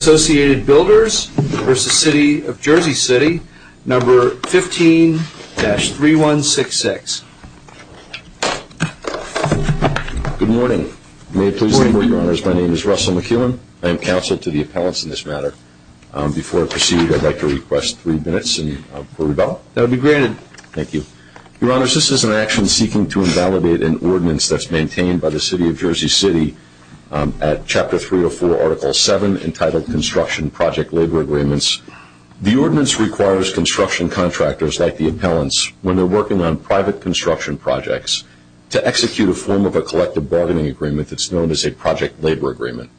City, No. 15-3166. Good morning. May it please me, Your Honors, my name is Russell McKeelan. I am counsel to the appellants in this matter. Before I proceed, I'd like to request three minutes and a quarter to go. That would be granted. Thank you. Your Honors, this is an action seeking to invalidate an ordinance that's maintained by the City of Jersey City at Chapter 304, Article 7, entitled Construction Project Labor Agreements. The ordinance requires construction contractors like the appellants when they're working on private construction projects to execute a form of a collective bargaining agreement that's known as a project labor agreement.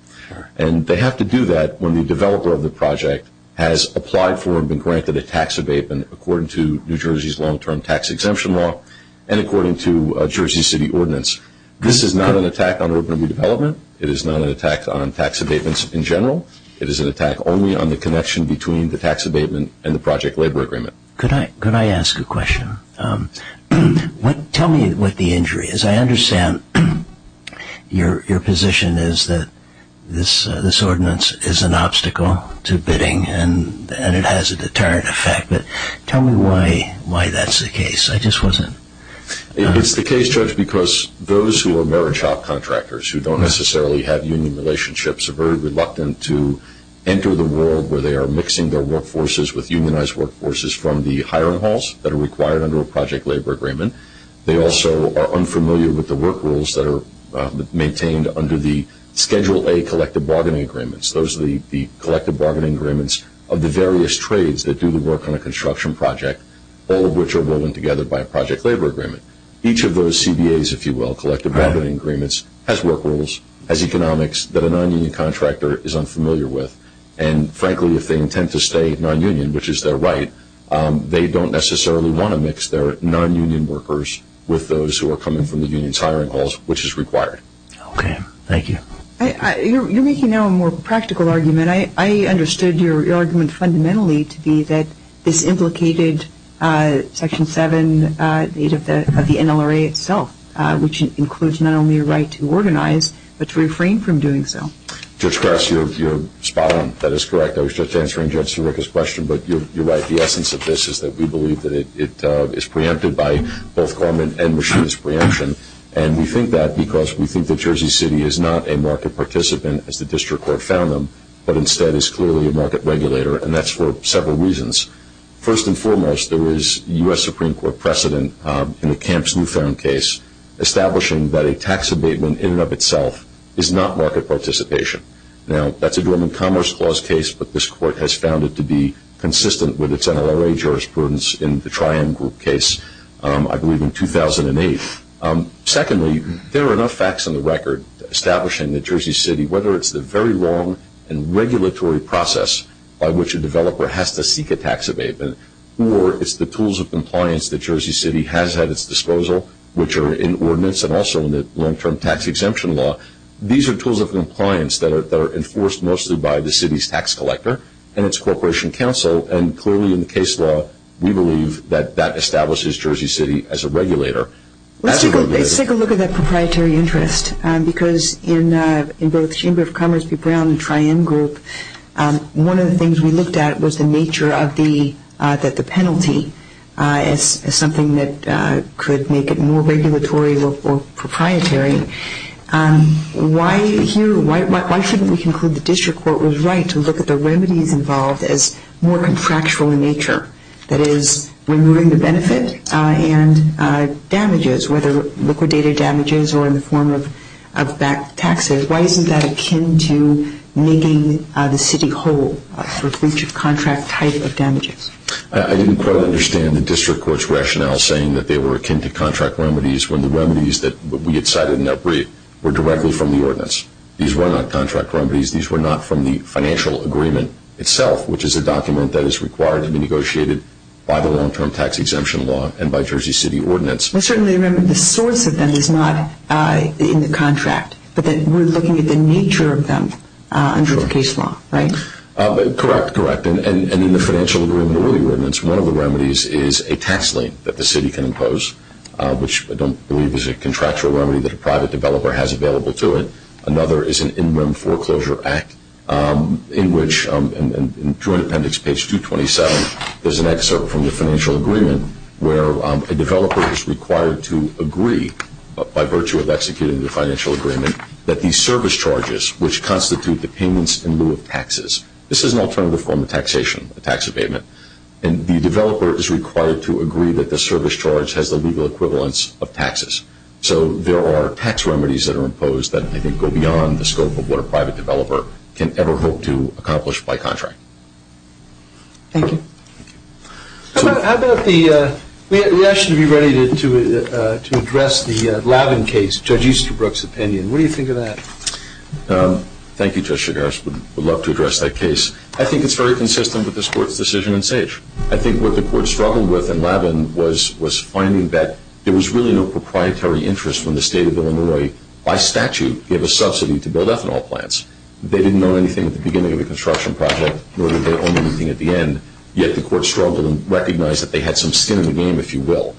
And they have to do that when the developer of the project has applied for and been granted a tax abatement according to New Jersey's long-term tax exemption law and according to a Jersey City ordinance. This is not an attack on urban redevelopment. It is not an attack on tax abatements in general. It is an attack only on the connection between the tax abatement and the project labor agreement. Could I ask a question? Tell me what the injury is. I understand your position is that this ordinance is an obstacle to bidding and it has a deterrent effect, but tell me why that's the case. I just wasn't... It's the case, Judge, because those who are marriage shop contractors who don't necessarily have union relationships are very reluctant to enter the world where they are mixing their workforces with unionized workforces from the hiring halls that are required under a project labor agreement. They also are unfamiliar with the work rules that are maintained under the Schedule A collective bargaining agreements. Those are the collective bargaining agreements of the various trades that do the work on a construction project, all of which are woven together by a project labor agreement. Each of those CBAs, if you will, collective bargaining agreements, has work rules, has economics that a non-union contractor is unfamiliar with. And frankly, if they intend to stay non-union, which is their right, they don't necessarily want to mix their non-union workers with those who are coming from the union's hiring halls, which is required. Okay. Thank you. You're making now a more practical argument. I understood your argument fundamentally to be that this implicated Section 7 of the NLRA itself, which includes not only a right to organize, but to refrain from doing so. Judge Krause, you're spot on. That is correct. I was just answering Judge Sirica's question, but you're right. The essence of this is that we believe that it is preempted by both government and machinist preemption. And we think that because we think that Jersey City is not a market participant, as the district court found them, but instead is clearly a market participant for several reasons. First and foremost, there is U.S. Supreme Court precedent in the Camps-Newfound case establishing that a tax abatement in and of itself is not market participation. Now, that's a German Commerce Clause case, but this court has found it to be consistent with its NLRA jurisprudence in the Tri-End Group case, I believe in 2008. Secondly, there are enough facts on the record establishing that Jersey City, whether it's the very long and regulatory process by which a developer has to seek a tax abatement, or it's the tools of compliance that Jersey City has at its disposal, which are in ordinance and also in the long-term tax exemption law. These are tools of compliance that are enforced mostly by the city's tax collector and its corporation council. And clearly in the case law, we believe that that establishes Jersey City as a regulator. Let's take a look at that proprietary interest, because in both Chamber of Commerce v. Brown and Tri-End Group, one of the things we looked at was the nature of the penalty as something that could make it more regulatory or proprietary. Why shouldn't we conclude the district court was right to look at the remedies involved as more contractual in nature? That is, removing the benefit and damages, whether liquidated damages or in the form of back taxes. Why isn't that akin to making the city whole for breach of contract type of damages? I didn't quite understand the district court's rationale saying that they were akin to contract remedies when the remedies that we had cited in that brief were directly from the ordinance. These were not contract remedies. These were not from the financial agreement itself, which is a document that is required to be negotiated by the Long-Term Tax Exemption Law and by Jersey City Ordinance. I certainly remember the source of them is not in the contract, but that we're looking at the nature of them under the case law, right? Correct, correct. And in the financial agreement or ordinance, one of the remedies is a tax lien that the city can impose, which I don't believe is a contractual remedy that a private developer has available to it. Another is an In-Rim Foreclosure Act, in which, in Joint Appendix page 227, there's an excerpt from the financial agreement where a developer is required to agree, by virtue of executing the financial agreement, that these service charges, which constitute the payments in lieu of taxes. This is an alternative form of taxation, a tax abatement. And the developer is required to agree that the service charge has the legal equivalence of taxes. So there are tax remedies that are imposed that I think go beyond the scope of what a private developer can ever hope to accomplish by contract. Thank you. How about the, we actually should be ready to address the Labin case, Judge Easterbrook's opinion. What do you think of that? Thank you, Judge Chigares. I would love to address that case. I think it's very consistent with this Court's decision in Sage. I think what the Court struggled with in Labin was finding that there was really no proprietary interest when the State of Illinois, by statute, gave a subsidy to build ethanol plants. They didn't know anything at the beginning of the construction project, nor did they know anything at the end, yet the Court struggled and recognized that they had some skin in the game, if you will.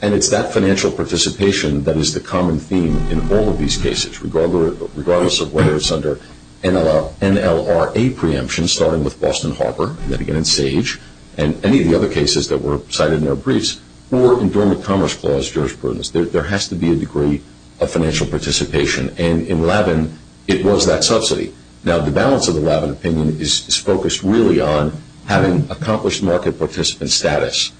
And it's that financial participation that is the common theme in all of these cases, regardless of whether it's under NLRA preemption, starting with Boston Harbor, and then again in Sage, and any of the other cases that were in Dormant Commerce Clause jurisprudence. There has to be a degree of financial participation. And in Labin, it was that subsidy. Now, the balance of the Labin opinion is focused really on having accomplished market participant status.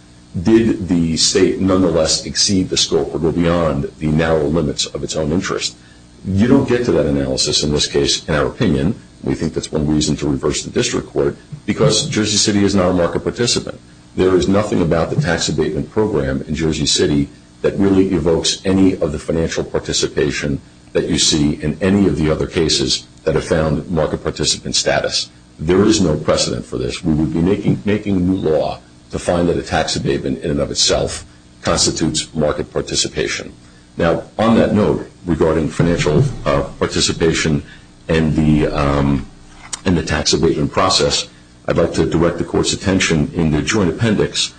Did the State nonetheless exceed the scope or go beyond the narrow limits of its own interest? You don't get to that analysis in this case, in our opinion. We think that's one reason to reverse the District Court, because Jersey City is not a market participant. There is nothing about the tax abatement program in Jersey City that really evokes any of the financial participation that you see in any of the other cases that have found market participant status. There is no precedent for this. We would be making new law to find that a tax abatement in and of itself constitutes market participation. Now, on that note, regarding financial participation and the tax abatement process, I'd like to direct the Court's attention in the joint appendix.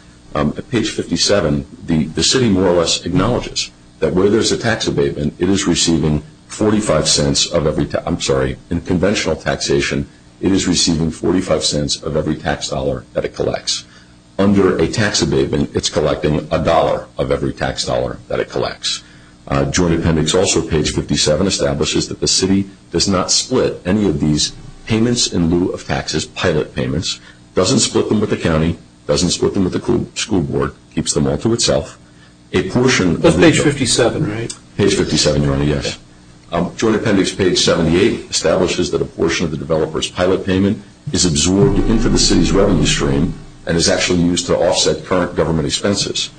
Page 57, the City more or less acknowledges that where there's a tax abatement, it is receiving 45 cents of every, I'm sorry, in conventional taxation, it is receiving 45 cents of every tax dollar that it collects. Under a tax abatement, it's collecting a dollar of every tax dollar that it collects. Joint appendix also, page 57, establishes that the City does not split any of these payments in lieu of taxes, pilot payments, doesn't split them with the county, doesn't split them with the school board, keeps them all to itself. A portion of the... But page 57, right? Page 57, Your Honor, yes. Joint appendix page 78 establishes that a portion of the developer's pilot payment is absorbed into the City's revenue stream and is actually used to offset current government expenses.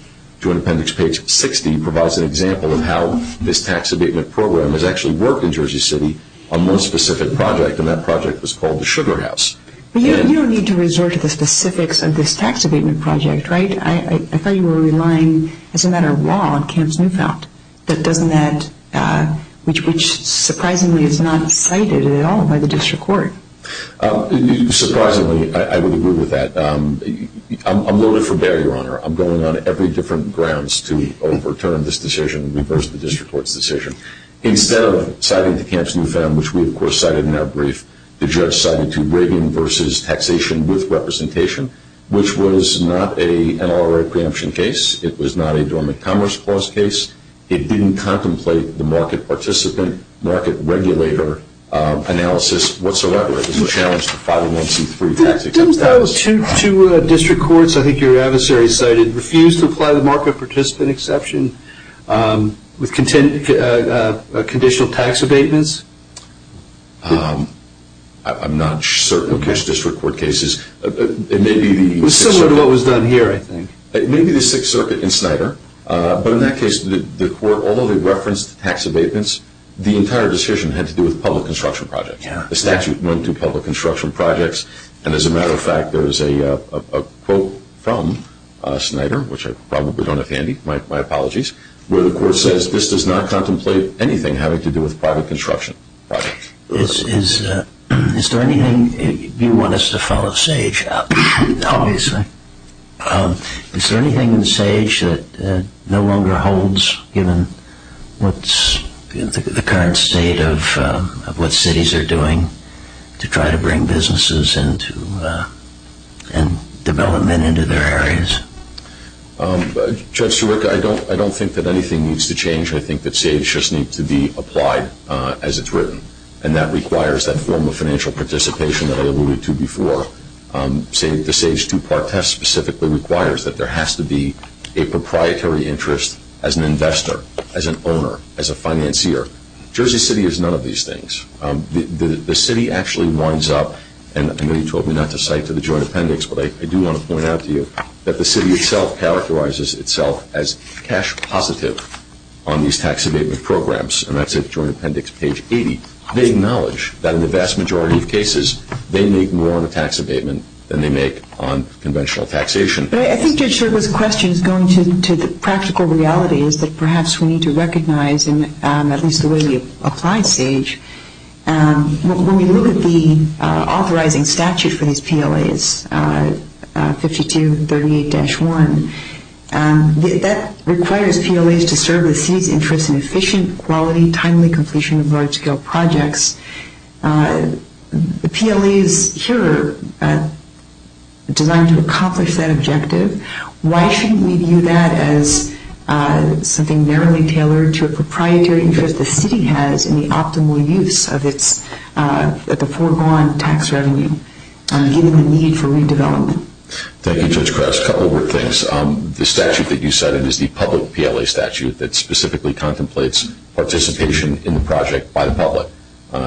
Joint appendix page 60 provides an example of how this tax abatement program has actually worked in Jersey City on one specific project, and that project was called the Sugar House. But you don't need to resort to the specifics of this tax abatement project, right? I thought you were relying, as a matter of law, on Camps Newfound, that doesn't that, which surprisingly is not cited at all by the district court. Surprisingly, I would agree with that. I'm loaded for bear, Your Honor. I'm going on every different grounds to overturn this decision, reverse the district court's decision. Instead of citing the Camps Newfound, which we, of course, cited in our brief, the judge cited 2 Brayden v. Taxation with Representation, which was not an NLRA preemption case. It was not a dormant commerce clause case. It didn't contemplate the market participant, market regulator analysis whatsoever. It was a challenge to 501c3 tax exemption. Didn't those two district courts, I think your adversary cited, refuse to apply the tax abatements? I'm not certain of those district court cases. It was similar to what was done here, I think. It may be the Sixth Circuit in Snyder, but in that case, the court, although they referenced the tax abatements, the entire decision had to do with public construction projects. The statute went to public construction projects, and as a matter of fact, there's a quote from Snyder, which I probably don't have handy, my apologies, where the court says, this does not contemplate anything having to do with private construction projects. Is there anything you want us to follow SAGE up, obviously? Is there anything in SAGE that no longer holds, given what's the current state of what cities are doing to try to bring businesses and development into their areas? Judge Sirica, I don't think that anything needs to change. I think that SAGE just needs to be applied as it's written, and that requires that form of financial participation that I alluded to before. The SAGE two-part test specifically requires that there has to be a proprietary interest as an investor, as an owner, as a financier. Jersey City is none of these things. The city actually winds up, and I know you told me not to cite to the court, but Jersey City itself characterizes itself as cash positive on these tax abatement programs, and that's at joint appendix page 80. They acknowledge that in the vast majority of cases, they make more on a tax abatement than they make on conventional taxation. I think Judge Sirica's question is going to the practical realities that perhaps we need to recognize in at least the way we apply SAGE. When we look at the authorizing statute for these PLAs, 5238-1, that requires PLAs to serve the city's interest in efficient, quality, timely completion of large-scale projects. The PLA is here designed to accomplish that objective. Why shouldn't we view that as something narrowly tailored to a proprietary interest the city has in the optimal use of the foregone tax revenue, given the need for redevelopment? Thank you, Judge Kress. A couple of things. The statute that you cited is the public PLA statute that specifically contemplates participation in the project by the public.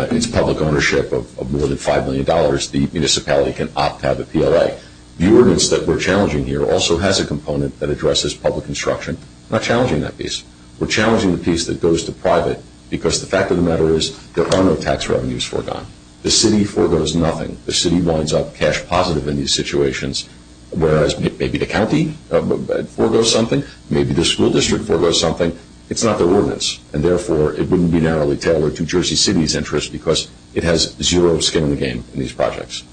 It's public ownership of more than $5 million. The municipality can opt to have a PLA. The ordinance that we're challenging here also has a component that addresses public instruction. We're not the fact of the matter is there are no tax revenues foregone. The city foregoes nothing. The city winds up cash positive in these situations, whereas maybe the county foregoes something, maybe the school district foregoes something. It's not the ordinance, and therefore it wouldn't be narrowly tailored to Jersey City's interest because it has zero skin in the game in these projects.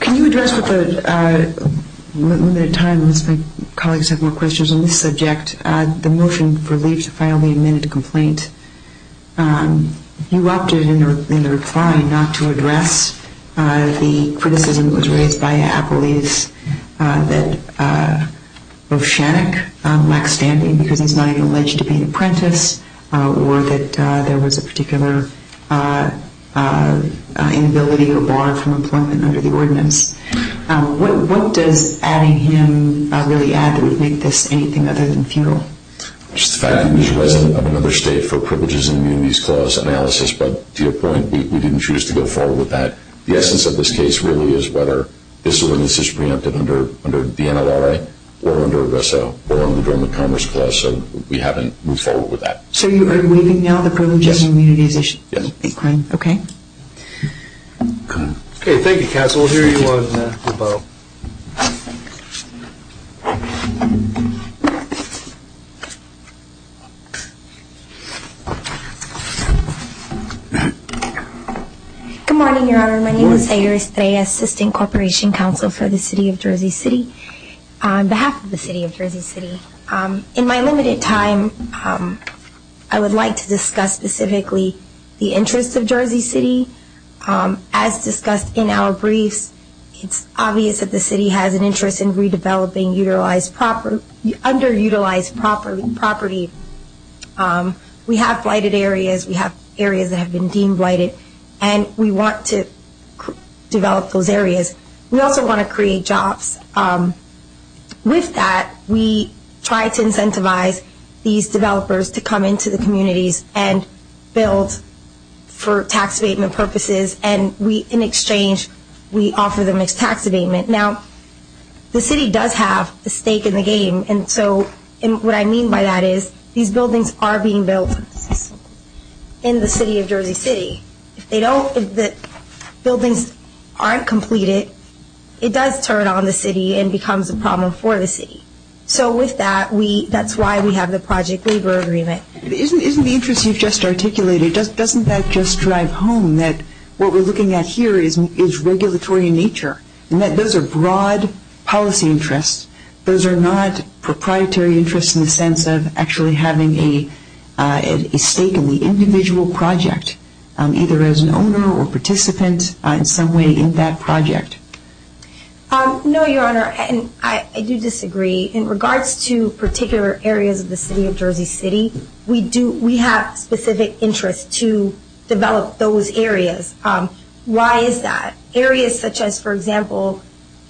Can you address with the limited time as my colleagues have more questions on this subject, the motion for leave to file the amended complaint? You opted in the reply not to address the criticism that was raised by Apolles that O'Shannock lacks standing because he's not even alleged to be an apprentice, or that there was a particular inability or bar from employment under the ordinance. What does adding him really add that would make this anything other than futile? Just the fact that he's resident of another state for privileges and immunities clause analysis, but to your point, we didn't choose to go forward with that. The essence of this case really is whether this ordinance is preempted under the NLRA or under the Dormant Commerce Clause, so we haven't moved forward with that. So you are waiving now the privileges and immunities issue? Yes. Okay. Okay, thank you, Counsel. We'll hear you on the phone. Good morning, Your Honor. My name is Sayur Estre, Assistant Corporation Counsel for the City of Jersey City. On behalf of the City of Jersey City, in my limited time, I would like to discuss specifically the interests of Jersey City. As discussed in our briefs, it's obvious that the city has an interest in redeveloping underutilized property. We have blighted areas, we have areas that have been deemed blighted, and we want to develop those areas. We also want to create jobs. With that, we try to incentivize these developers to come into the communities and build for tax abatement purposes, and we, in exchange, we offer them as tax abatement. Now, the city does have a stake in the game, and so what I mean by that is these buildings are being built in the City of Jersey City. If they don't, if the buildings aren't completed, it does turn on the city and becomes a problem for the city. So with that, we, that's why we have the project labor agreement. Isn't the interest you've just articulated, doesn't that just drive home that what we're looking at here is regulatory in nature, and that those are broad policy interests? Those are not proprietary interests in the sense of actually having a stake in the individual project, either as an owner or participant in some way in that project? No, Your Honor, and I do disagree. In regards to particular areas of the City of Jersey City, we do, we have specific interests to develop those areas. Why is that? Areas such as, for example,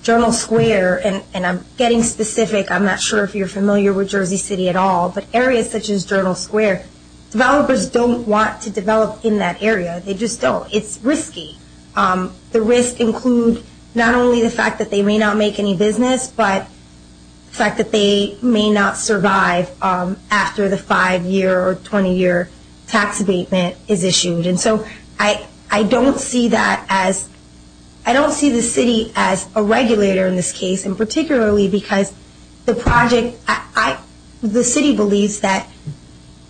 Journal Square, and I'm getting specific, I'm not sure if you're familiar with Jersey City at all, but areas such as Journal Square, developers don't want to develop in that area. They just don't. It's risky. The risks include not only the fact that they may not make any business, but the fact that they may not survive after the five-year or 20-year tax abatement is issued. And so I don't see that as, I don't see the city as a regulator in this case, and particularly because the project, I, the city believes that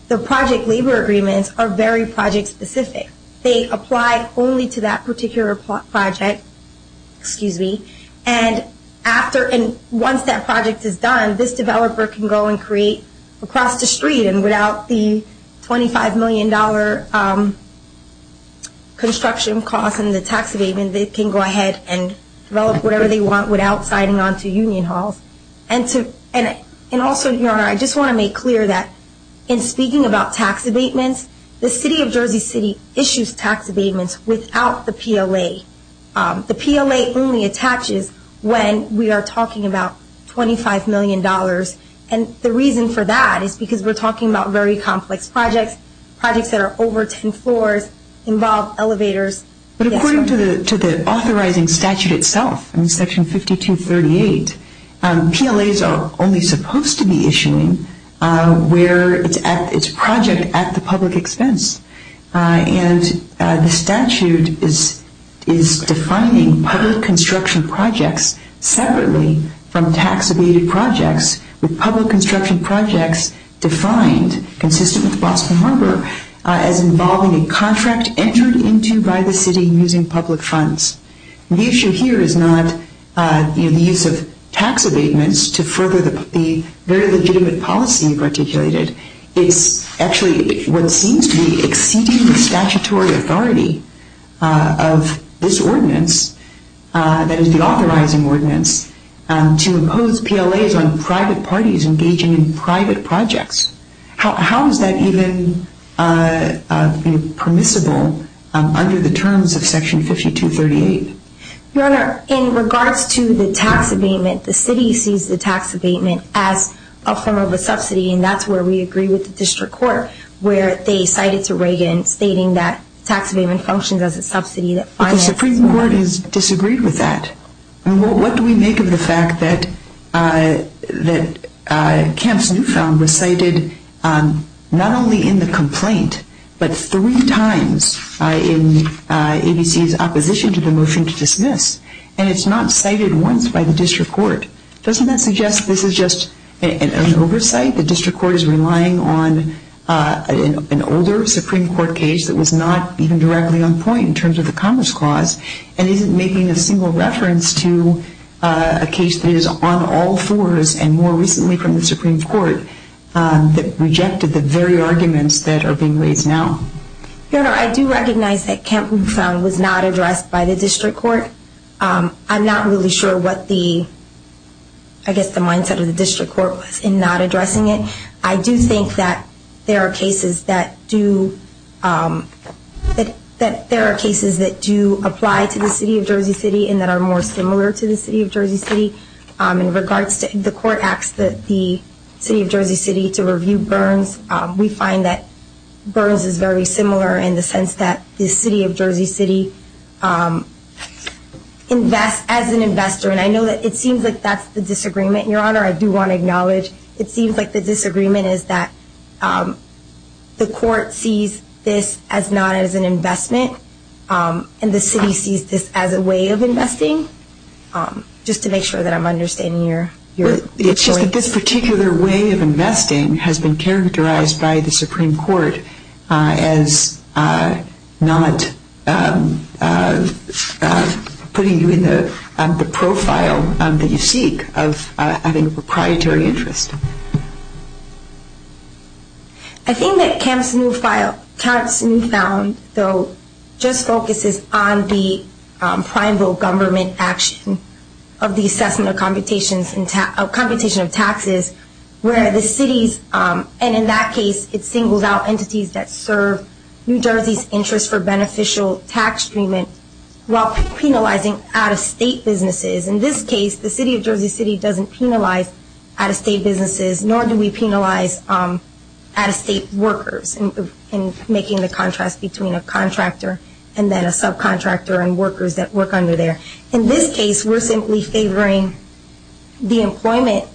the project labor agreements are very project specific. They apply only to that particular project, excuse me, and after, and once that project is done, this developer can go and create across the street, and without the $25 million construction costs and the tax abatement, they can go ahead and develop whatever they want without signing on to union halls. And to, and also, Your Honor, I just want to make clear that in speaking about tax abatements, the city of Jersey City issues tax abatements without the PLA. The PLA only attaches when we are talking about $25 million, and the reason for that is because we're talking about very complex projects, projects that are over 10 floors, involve elevators. But according to the authorizing statute itself, in Section 5238, PLAs are only supposed to be issuing where it's at, it's project at the public expense. And the statute is, is defining public construction projects separately from tax abated projects, with public construction projects defined, consistent with Boston Harbor, as involving a contract entered into by the city using public funds. The issue here is not the use of tax abatements to further the very legitimate policy you've articulated. It's actually what seems to be exceeding the statutory authority of this ordinance, that is the authorizing ordinance, to impose PLAs on private parties engaging in private projects. How is that even permissible under the terms of Section 5238? Your Honor, in regards to the tax abatement, the city sees the tax abatement as a form of a subsidy, and that's where we agree with the District Court, where they cited to Reagan, stating that tax abatement functions as a subsidy that finances... But the Supreme Court has disagreed with that. What do we make of the fact that, that Kemp's case, which you found, was cited not only in the complaint, but three times in ABC's opposition to the motion to dismiss? And it's not cited once by the District Court. Doesn't that suggest this is just an oversight? The District Court is relying on an older Supreme Court case that was not even directly on point in terms of the Commerce Clause, and isn't making a single reference to a case that is on all fours, and more recently from the Supreme Court, that rejected the very arguments that are being raised now. Your Honor, I do recognize that Kemp, we found, was not addressed by the District Court. I'm not really sure what the, I guess the mindset of the District Court was in not addressing it. I do think that there are cases that do, that there are cases that do apply to the City of Jersey City, and that are more similar to the City of Jersey City. In regards to, the Court asked the City of Jersey City to review Burns. We find that Burns is very similar in the sense that the City of Jersey City invests as an investor, and I know that it seems like that's the disagreement. Your Honor, I do want to acknowledge, it seems like the disagreement is that the Court sees this as not as an investment, and the City sees this as a way of investing, just to make sure that I'm understanding your, your point. It's just that this particular way of investing has been characterized by the Supreme Court as not putting you in the profile that you should be in. I think that Kemp's new file, Kemp's new found, though, just focuses on the primal government action of the assessment of computation of taxes, where the City's, and in that case it singles out entities that serve New Jersey's interest for beneficial tax treatment, while penalizing out-of-state businesses. In this case, the City of Jersey City doesn't penalize out-of-state businesses, nor do we penalize out-of-state workers, in making the contrast between a contractor and then a subcontractor and workers that work under there. In this case, we're simply favoring the employment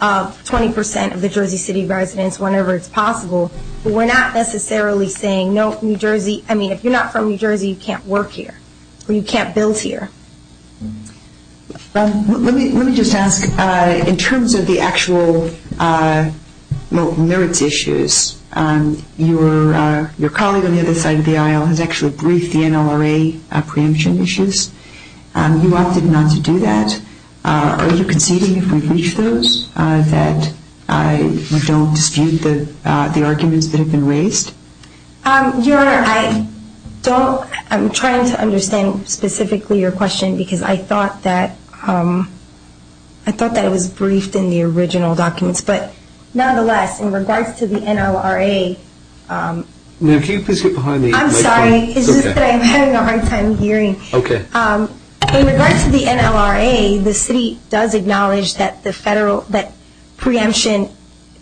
of 20 percent of the Jersey City residents whenever it's possible. We're not necessarily saying, no, New Jersey, I mean, if you're not from New Jersey, you can't work here, or you can't build here. Let me just ask, in terms of the actual merits issues, your colleague on the other side of the aisle has actually briefed the NLRA on preemption issues. You opted not to do that. Are you conceding, if we breach those, that you don't dispute the arguments that have been raised? Your Honor, I don't, I'm trying to understand specifically your question, because I thought that, I thought that it was briefed in the original documents, but nonetheless, in regards to the NLRA, Ma'am, can you please get behind the microphone? I'm sorry, it's just that I'm having a hard time hearing. Okay. In regards to the NLRA, the City does acknowledge that the federal, that preemption,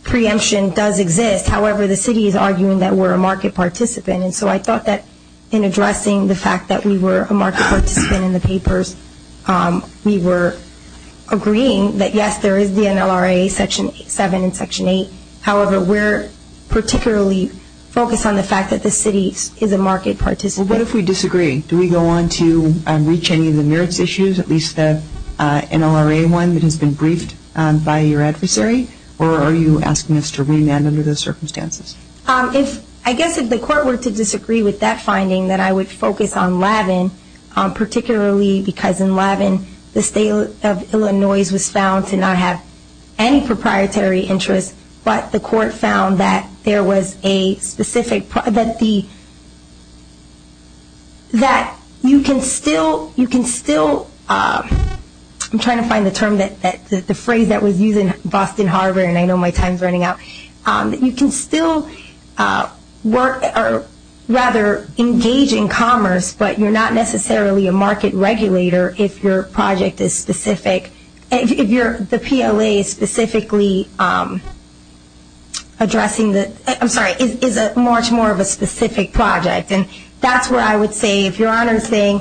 preemption does exist. However, the City is arguing that we're a market participant, and so I thought that in addressing the fact that we were a market participant in the papers, we were agreeing that, yes, there is the NLRA, Section 7 and Section 8. However, we're particularly focused on the fact that the City is a market participant. Well, what if we disagree? Do we go on to reach any of the merits issues, at least the circumstances? If, I guess if the Court were to disagree with that finding, then I would focus on Lavin, particularly because in Lavin, the State of Illinois was found to not have any proprietary interest, but the Court found that there was a specific, that the, that you can still, you can still, I'm trying to find the term that, the phrase that was used in Boston Harbor, and I know my time is running out, that you can still work, or rather engage in commerce, but you're not necessarily a market regulator if your project is specific, if you're, the PLA specifically addressing the, I'm sorry, is a much more of a specific project. And that's where I would say, if Your Honor is saying,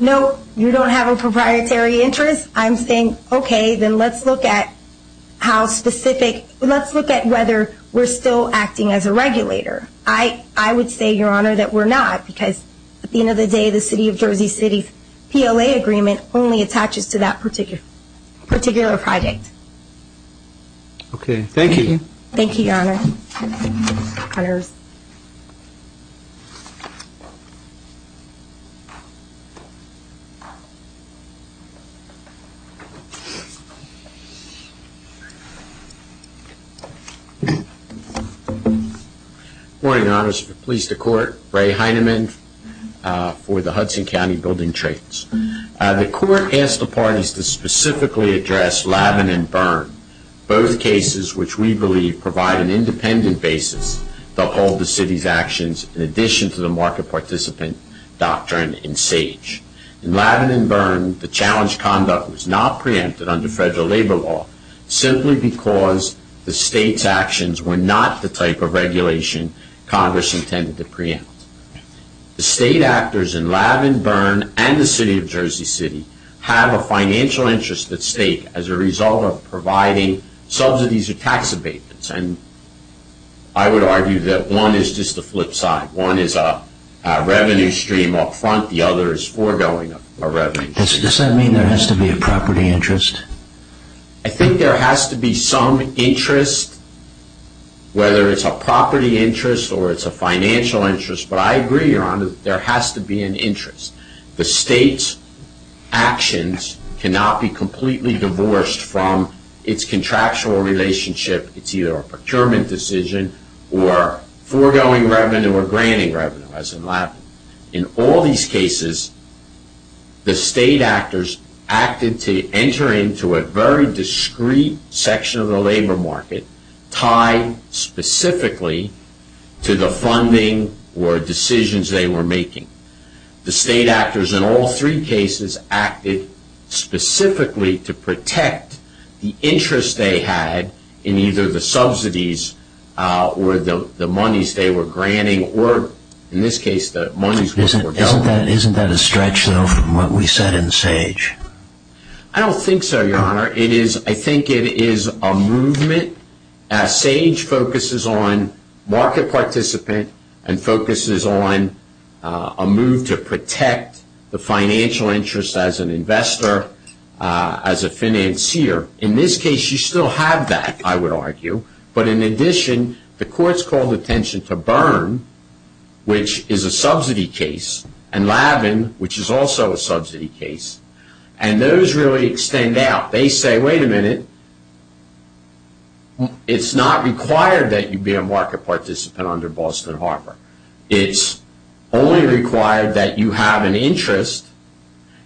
no, you don't have a proprietary interest, I'm saying, okay, then let's look at how specific, let's look at whether we're still acting as a regulator. I, I would say, Your Honor, that we're not, because at the end of the day, the City of Jersey City's PLA agreement only attaches to that particular, particular project. Okay. Thank you. Thank you, Your Honor. Connors. Good morning, Your Honors. Police to Court. Ray Heinemann for the Hudson County Building Trades. The Court asked the parties to specifically address Lavin and Byrne, both cases which we will discuss in a moment. In the case of Lavin and Byrne, the City of Jersey City has an independent basis to uphold the City's actions in addition to the market participant doctrine in SAGE. In Lavin and Byrne, the challenge conduct was not preempted under federal labor law simply because the State's actions were not the type of regulation Congress intended to preempt. The State actors in Lavin, Byrne, and the City of Jersey City have a financial interest at stake as a result of providing subsidies or tax abatements, and I would argue that one is just the flip side. One is a revenue stream up front. The other is foregoing a revenue stream. Does that mean there has to be a property interest? I think there has to be some interest, whether it's a property interest or it's a financial interest, but I agree, Your Honor, there has to be an interest. The State's actions cannot be completely divorced from its contractual relationship. It's either a procurement decision or foregoing revenue or granting revenue, as in Lavin. In all these cases, the State actors acted to enter into a very discreet section of the they were making. The State actors in all three cases acted specifically to protect the interest they had in either the subsidies or the monies they were granting or, in this case, the monies that were dealt with. Isn't that a stretch, though, from what we said in Sage? I don't think so, Your Honor. I think it is a movement, as Sage focuses on market participant and focuses on a move to protect the financial interest as an investor, as a financier. In this case, you still have that, I would argue, but in addition, the courts called attention to Byrne, which is a subsidy case, and Lavin, which is also a subsidy case, and those really extend out. They say, wait a minute, it's not required that you be a market participant under Boston Harbor. It's only required that you have an interest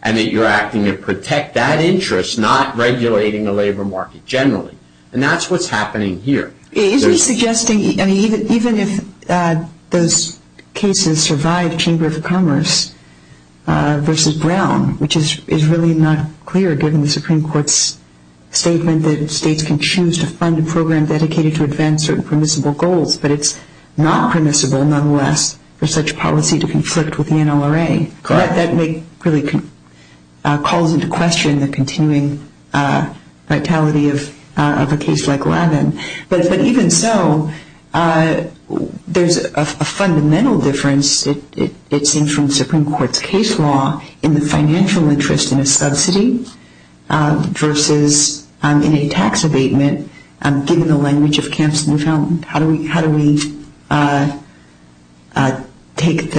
and that you're acting to protect that interest, not regulating the labor market generally, and that's what's happening here. Is he suggesting, even if those cases survive Chamber of Commerce versus Brown, which is really not clear given the Supreme Court's statement that states can choose to fund a program dedicated to advance certain permissible goals, but it's not permissible, nonetheless, for such policy to conflict with the NLRA. That really calls into question the continuing vitality of a case like Lavin. But even so, there's a fundamental difference, it seems from Supreme Court's case law, in the financial interest in a subsidy versus in a tax abatement, given the language of Kamp's Newfoundland. How do we take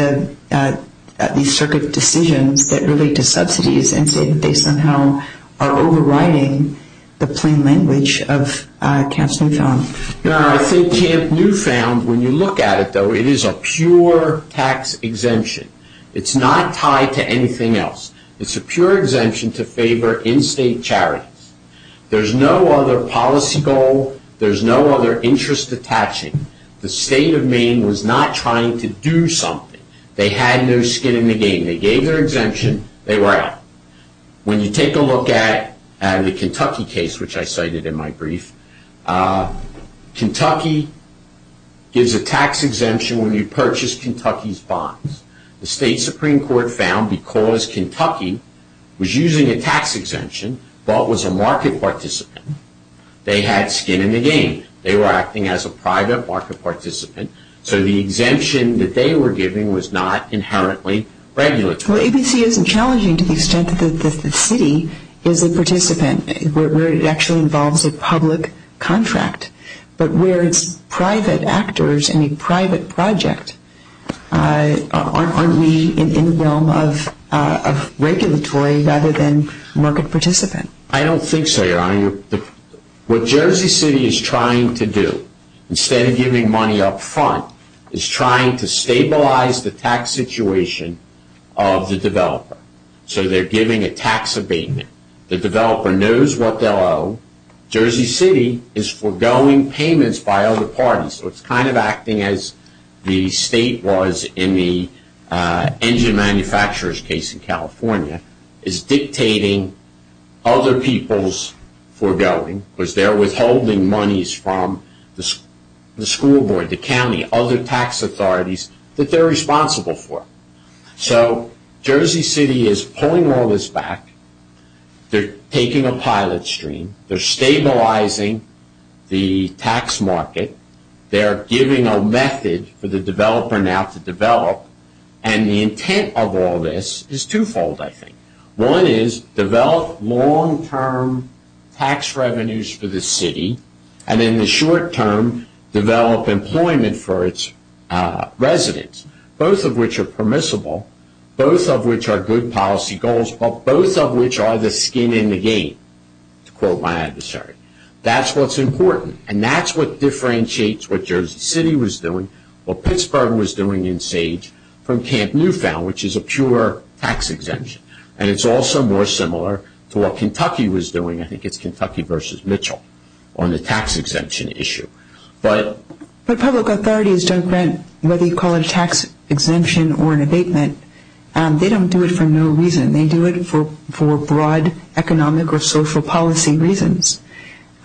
these circuit decisions that relate to subsidies and say that they somehow are overriding the plain language of Kamp's Newfoundland? I think Kamp Newfound, when you look at it, though, it is a pure tax exemption. It's not tied to anything else. It's a pure exemption to favor in-state charities. There's no other policy goal. There's no other interest attaching. The state of Maine was not trying to do something. They had no skin in the game. They gave their exemption. They were out. When you take a look at the Kentucky case, which I cited in my brief, Kentucky gives a tax exemption when you purchase Kentucky's bonds. The state Supreme Court found because Kentucky was using a tax exemption but was a market participant, they had skin in the game. They were acting as a private market participant, so the exemption that they were giving was not inherently regulatory. Well, ABC isn't challenging to the extent that the city is a participant, where it actually involves a public contract. But where it's private actors in a private project, aren't we in the realm of regulatory rather than market participant? I don't think so, Your Honor. What Jersey City is trying to do, instead of giving money up front, is trying to stabilize the tax situation of the developer. So they're giving a tax abatement. The developer knows what they'll owe. Jersey City is foregoing payments by other parties, so it's kind of acting as the state was in the engine manufacturer's case in California, is dictating other people's foregoing, because they're withholding monies from the school board, the county, other tax authorities that they're responsible for. So Jersey City is pulling all this back. They're taking a pilot stream. They're stabilizing the tax market. They're giving a method for the developer now to develop, and the intent of all this is twofold, I think. One is develop long-term tax revenues for the city, and in the short term, develop employment for its residents, both of which are permissible, both of which are good policy goals, but both of which are the skin in the game, to quote my adversary. That's what's important, and that's what differentiates what Jersey City was doing, what Pittsburgh was doing in Sage, from Camp Newfound, which is a pure tax exemption. And it's also more similar to what Kentucky was doing, I think it's Kentucky versus Mitchell, on the tax exemption issue. But public authorities don't grant, whether you call it a tax exemption or an abatement, they don't do it for no reason. They do it for broad economic or social policy reasons.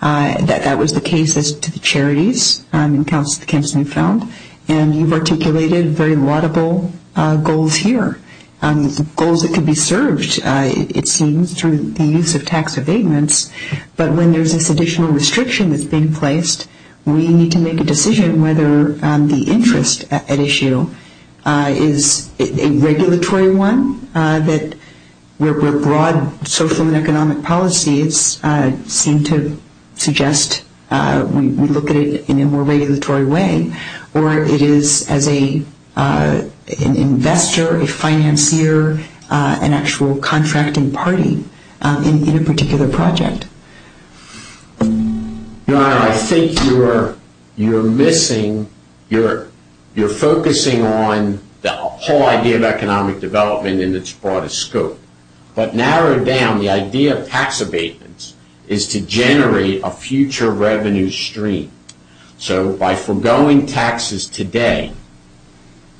That was the case to the charities in Camp Newfound, and you've articulated very laudable goals here, goals that could be served, it seems, through the use of tax abatements. But when there's this additional restriction that's being placed, we need to make a decision whether the interest at issue is a regulatory one, where broad social and economic policies seem to suggest we look at it in a more regulatory way, or it is as an investor, a financier, an actual contracting party in a particular project. Your Honor, I think you're missing, you're focusing on the whole idea of economic development and its broader scope. But narrowed down, the idea of tax abatements is to generate a future revenue stream. So by foregoing taxes today,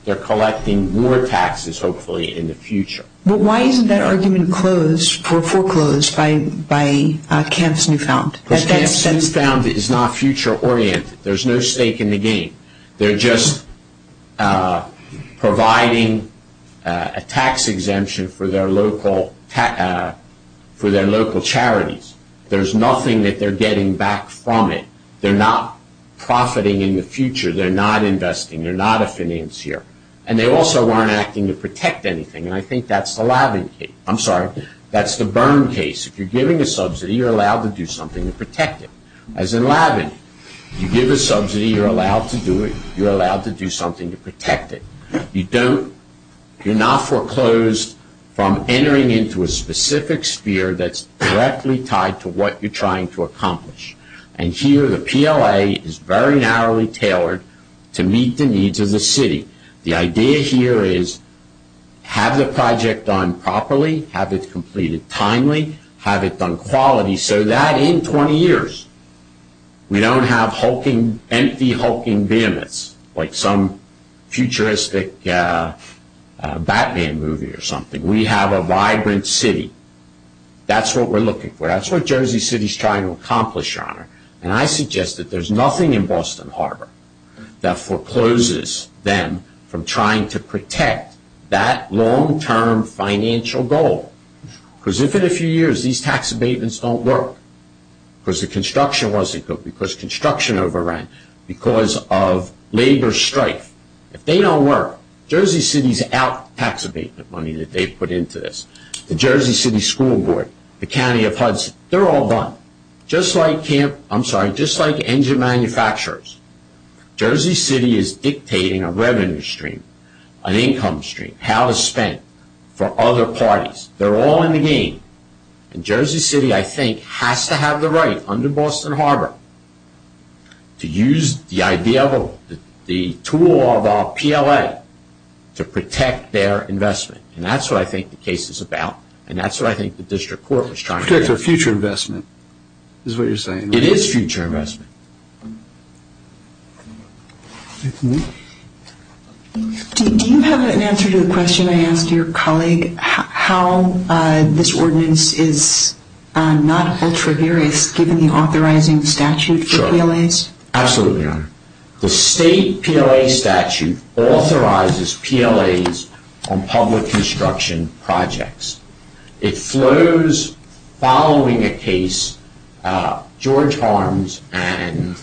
they're collecting more taxes, hopefully, in the future. But why isn't that argument foreclosed by Camp's Newfound? Because Camp's Newfound is not future-oriented. There's no stake in the game. They're just providing a tax exemption for their local charities. There's nothing that they're getting back from it. They're not profiting in the future. They're not investing. They're not a financier. And they also weren't acting to protect anything. And I think that's the Laban case. I'm sorry, that's the Byrne case. If you're giving a subsidy, you're allowed to do something to protect it. As in Laban, you give a subsidy, you're allowed to do it, you're allowed to do something to protect it. You're not foreclosed from entering into a specific sphere that's directly tied to what you're trying to accomplish. And here, the PLA is very narrowly tailored to meet the needs of the city. The idea here is have the project done properly, have it completed timely, have it done quality, so that in 20 years we don't have empty hulking vehemence like some futuristic Batman movie or something. We have a vibrant city. That's what we're looking for. That's what Jersey City is trying to accomplish, Your Honor. And I suggest that there's nothing in Boston Harbor that forecloses them from trying to protect that long-term financial goal. Because if in a few years these tax abatements don't work, because the construction wasn't good, because construction overran, because of labor strife, if they don't work, Jersey City's out tax abatement money that they put into this. The Jersey City School Board, the County of Hudson, they're all done. Just like engine manufacturers, Jersey City is dictating a revenue stream, an income stream, how it's spent for other parties. They're all in the game. And Jersey City, I think, has to have the right, under Boston Harbor, to use the tool of our PLA to protect their investment. And that's what I think the case is about. It's a future investment is what you're saying. It is future investment. Do you have an answer to the question I asked your colleague, how this ordinance is not ultra-various given the authorizing statute for PLAs? Absolutely, Your Honor. The state PLA statute authorizes PLAs on public construction projects. It flows following a case, George Harms and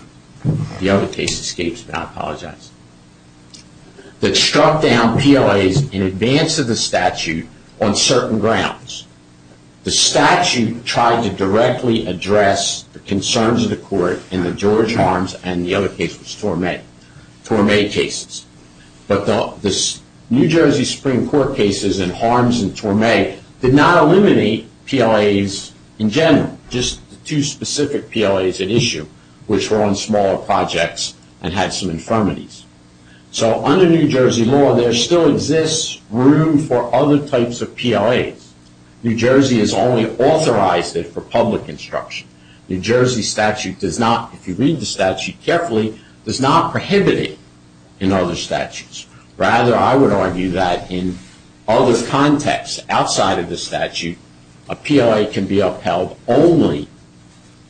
the other case escapes me, I apologize, that struck down PLAs in advance of the statute on certain grounds. The statute tried to directly address the concerns of the court in the George Harms and the other case was Torme cases. But the New Jersey Supreme Court cases in Harms and Torme did not eliminate PLAs in general, just the two specific PLAs at issue, which were on smaller projects and had some infirmities. So under New Jersey law, there still exists room for other types of PLAs. New Jersey has only authorized it for public construction. New Jersey statute does not, if you read the statute carefully, does not prohibit it in other statutes. Rather, I would argue that in other contexts outside of the statute, a PLA can be upheld only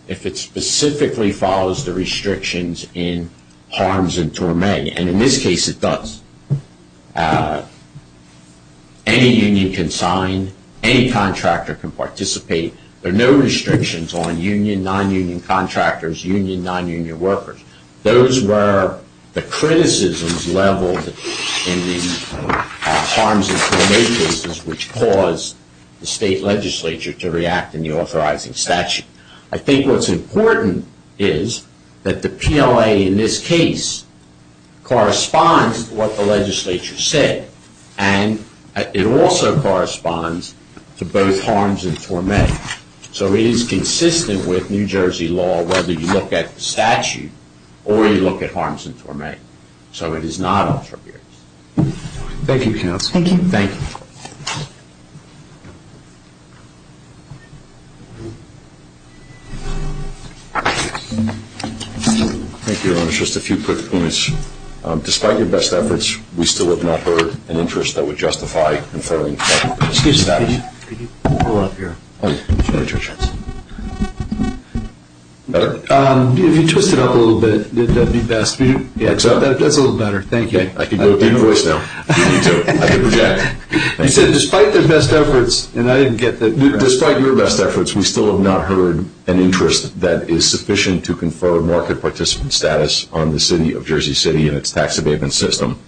if it specifically follows the restrictions in Harms and Torme, and in this case it does. Any union can sign. Any contractor can participate. There are no restrictions on union, non-union contractors, union, non-union workers. Those were the criticisms leveled in the Harms and Torme cases which caused the state legislature to react in the authorizing statute. I think what's important is that the PLA in this case corresponds to what the legislature said, and it also corresponds to both Harms and Torme. So it is consistent with New Jersey law whether you look at the statute or you look at Harms and Torme. So it is not authorized. Thank you, counsel. Thank you. Thank you. Thank you, Your Honor. Just a few quick points. Despite your best efforts, we still have not heard an interest that would justify conferring market participant status. Excuse me. Could you pull up your slides? Better? If you twist it up a little bit, that would be best. That's a little better. Thank you. I can do it with your voice now. You too. I can project. You said despite their best efforts, and I didn't get that. Despite your best efforts, we still have not heard an interest that is sufficient to confer market participant status on the city of Jersey City and its tax abatement system.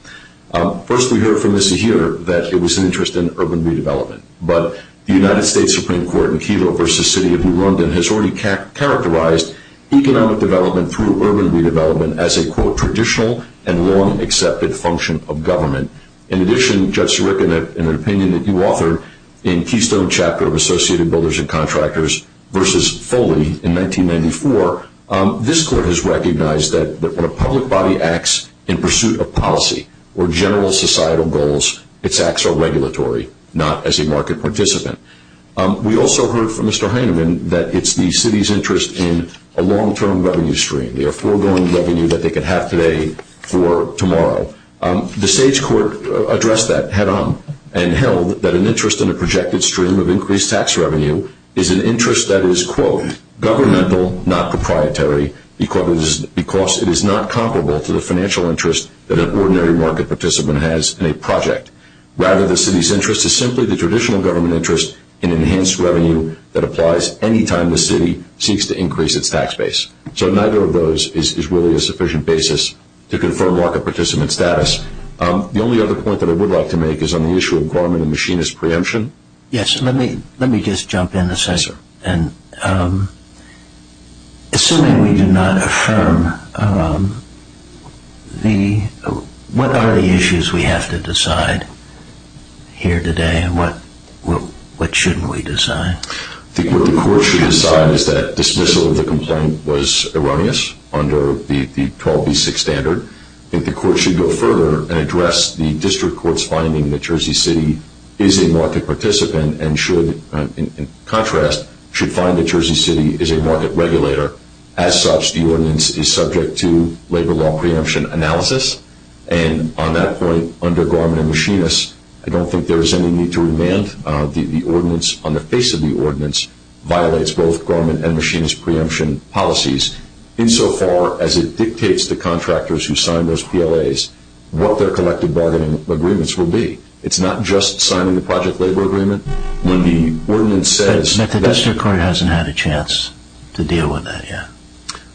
First, we heard from Ms. Zahir that there was an interest in urban redevelopment, but the United States Supreme Court in Kelo v. City of New London has already characterized economic development through urban redevelopment as a, quote, traditional and long-accepted function of government. In addition, Judge Sirica, in an opinion that you authored in Keystone Chapter of Associated Builders and Contractors v. Foley in 1994, this court has recognized that when a public body acts in pursuit of policy or general societal goals, its acts are regulatory, not as a market participant. We also heard from Mr. Heineman that it's the city's interest in a long-term revenue stream, the foregoing revenue that they could have today for tomorrow. The sage court addressed that head-on and held that an interest in a projected stream of increased tax revenue is an interest that is, quote, governmental, not proprietary, because it is not comparable to the financial interest that an ordinary market participant has in a project. Rather, the city's interest is simply the traditional government interest in enhanced revenue that applies any time the city seeks to increase its tax base. So neither of those is really a sufficient basis to confirm market participant status. The only other point that I would like to make is on the issue of government and machinist preemption. Yes, let me just jump in a second. Assuming we do not affirm, what are the issues we have to decide here today and what shouldn't we decide? I think what the court should decide is that dismissal of the complaint was erroneous under the 12b6 standard. I think the court should go further and address the district court's finding that Jersey City is a market participant and should, in contrast, should find that Jersey City is a market regulator. As such, the ordinance is subject to labor law preemption analysis, and on that point, under government and machinist, I don't think there is any need to remand. The ordinance on the face of the ordinance violates both government and machinist preemption policies insofar as it dictates to contractors who sign those PLAs what their collective bargaining agreements will be. It's not just signing the project labor agreement. But the district court hasn't had a chance to deal with that yet.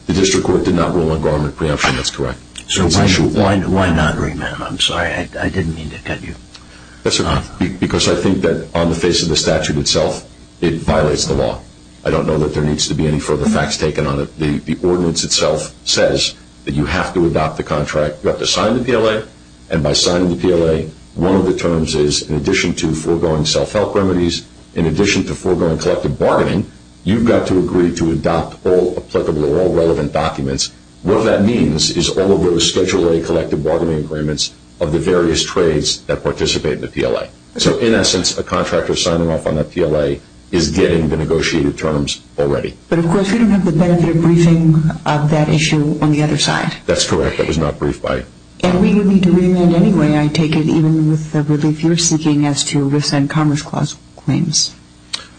The district court did not rule on government preemption, that's correct. So why not remand? I'm sorry, I didn't mean to cut you off. Because I think that on the face of the statute itself, it violates the law. I don't know that there needs to be any further facts taken on it. The ordinance itself says that you have to adopt the contract, you have to sign the PLA, and by signing the PLA, one of the terms is in addition to foregoing self-help remedies, in addition to foregoing collective bargaining, you've got to agree to adopt all applicable, all relevant documents. What that means is all of those Schedule A collective bargaining agreements of the various trades that participate in the PLA. So in essence, a contractor signing off on that PLA is getting the negotiated terms already. But of course, you don't have the benefit of briefing of that issue on the other side. That's correct. That was not briefed by... And we need to remand anyway, I take it, even with the relief you're seeking as to RIFS and Commerce Clause claims.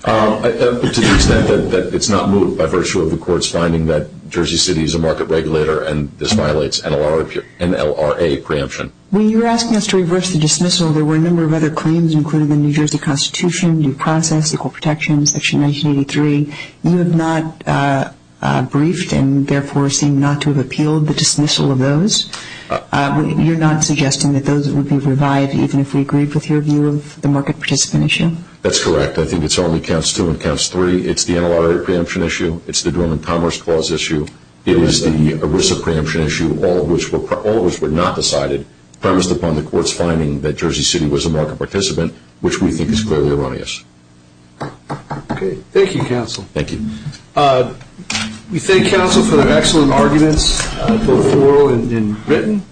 To the extent that it's not moved by virtue of the Court's finding that Jersey City is a market regulator and this violates NLRA preemption. When you were asking us to reverse the dismissal, there were a number of other claims, including the New Jersey Constitution, due process, Equal Protection, Section 1983. You have not briefed and therefore seem not to have appealed the dismissal of those. You're not suggesting that those would be revived even if we agreed with your view of the market participant issue? That's correct. I think it's only counts two and counts three. It's the NLRA preemption issue. It's the Dormant Commerce Clause issue. It is the ERISA preemption issue, all of which were not decided, premised upon the Court's finding that Jersey City was a market participant, which we think is clearly erroneous. Okay. Thank you, Counsel. Thank you. We thank Counsel for the excellent arguments, both oral and written.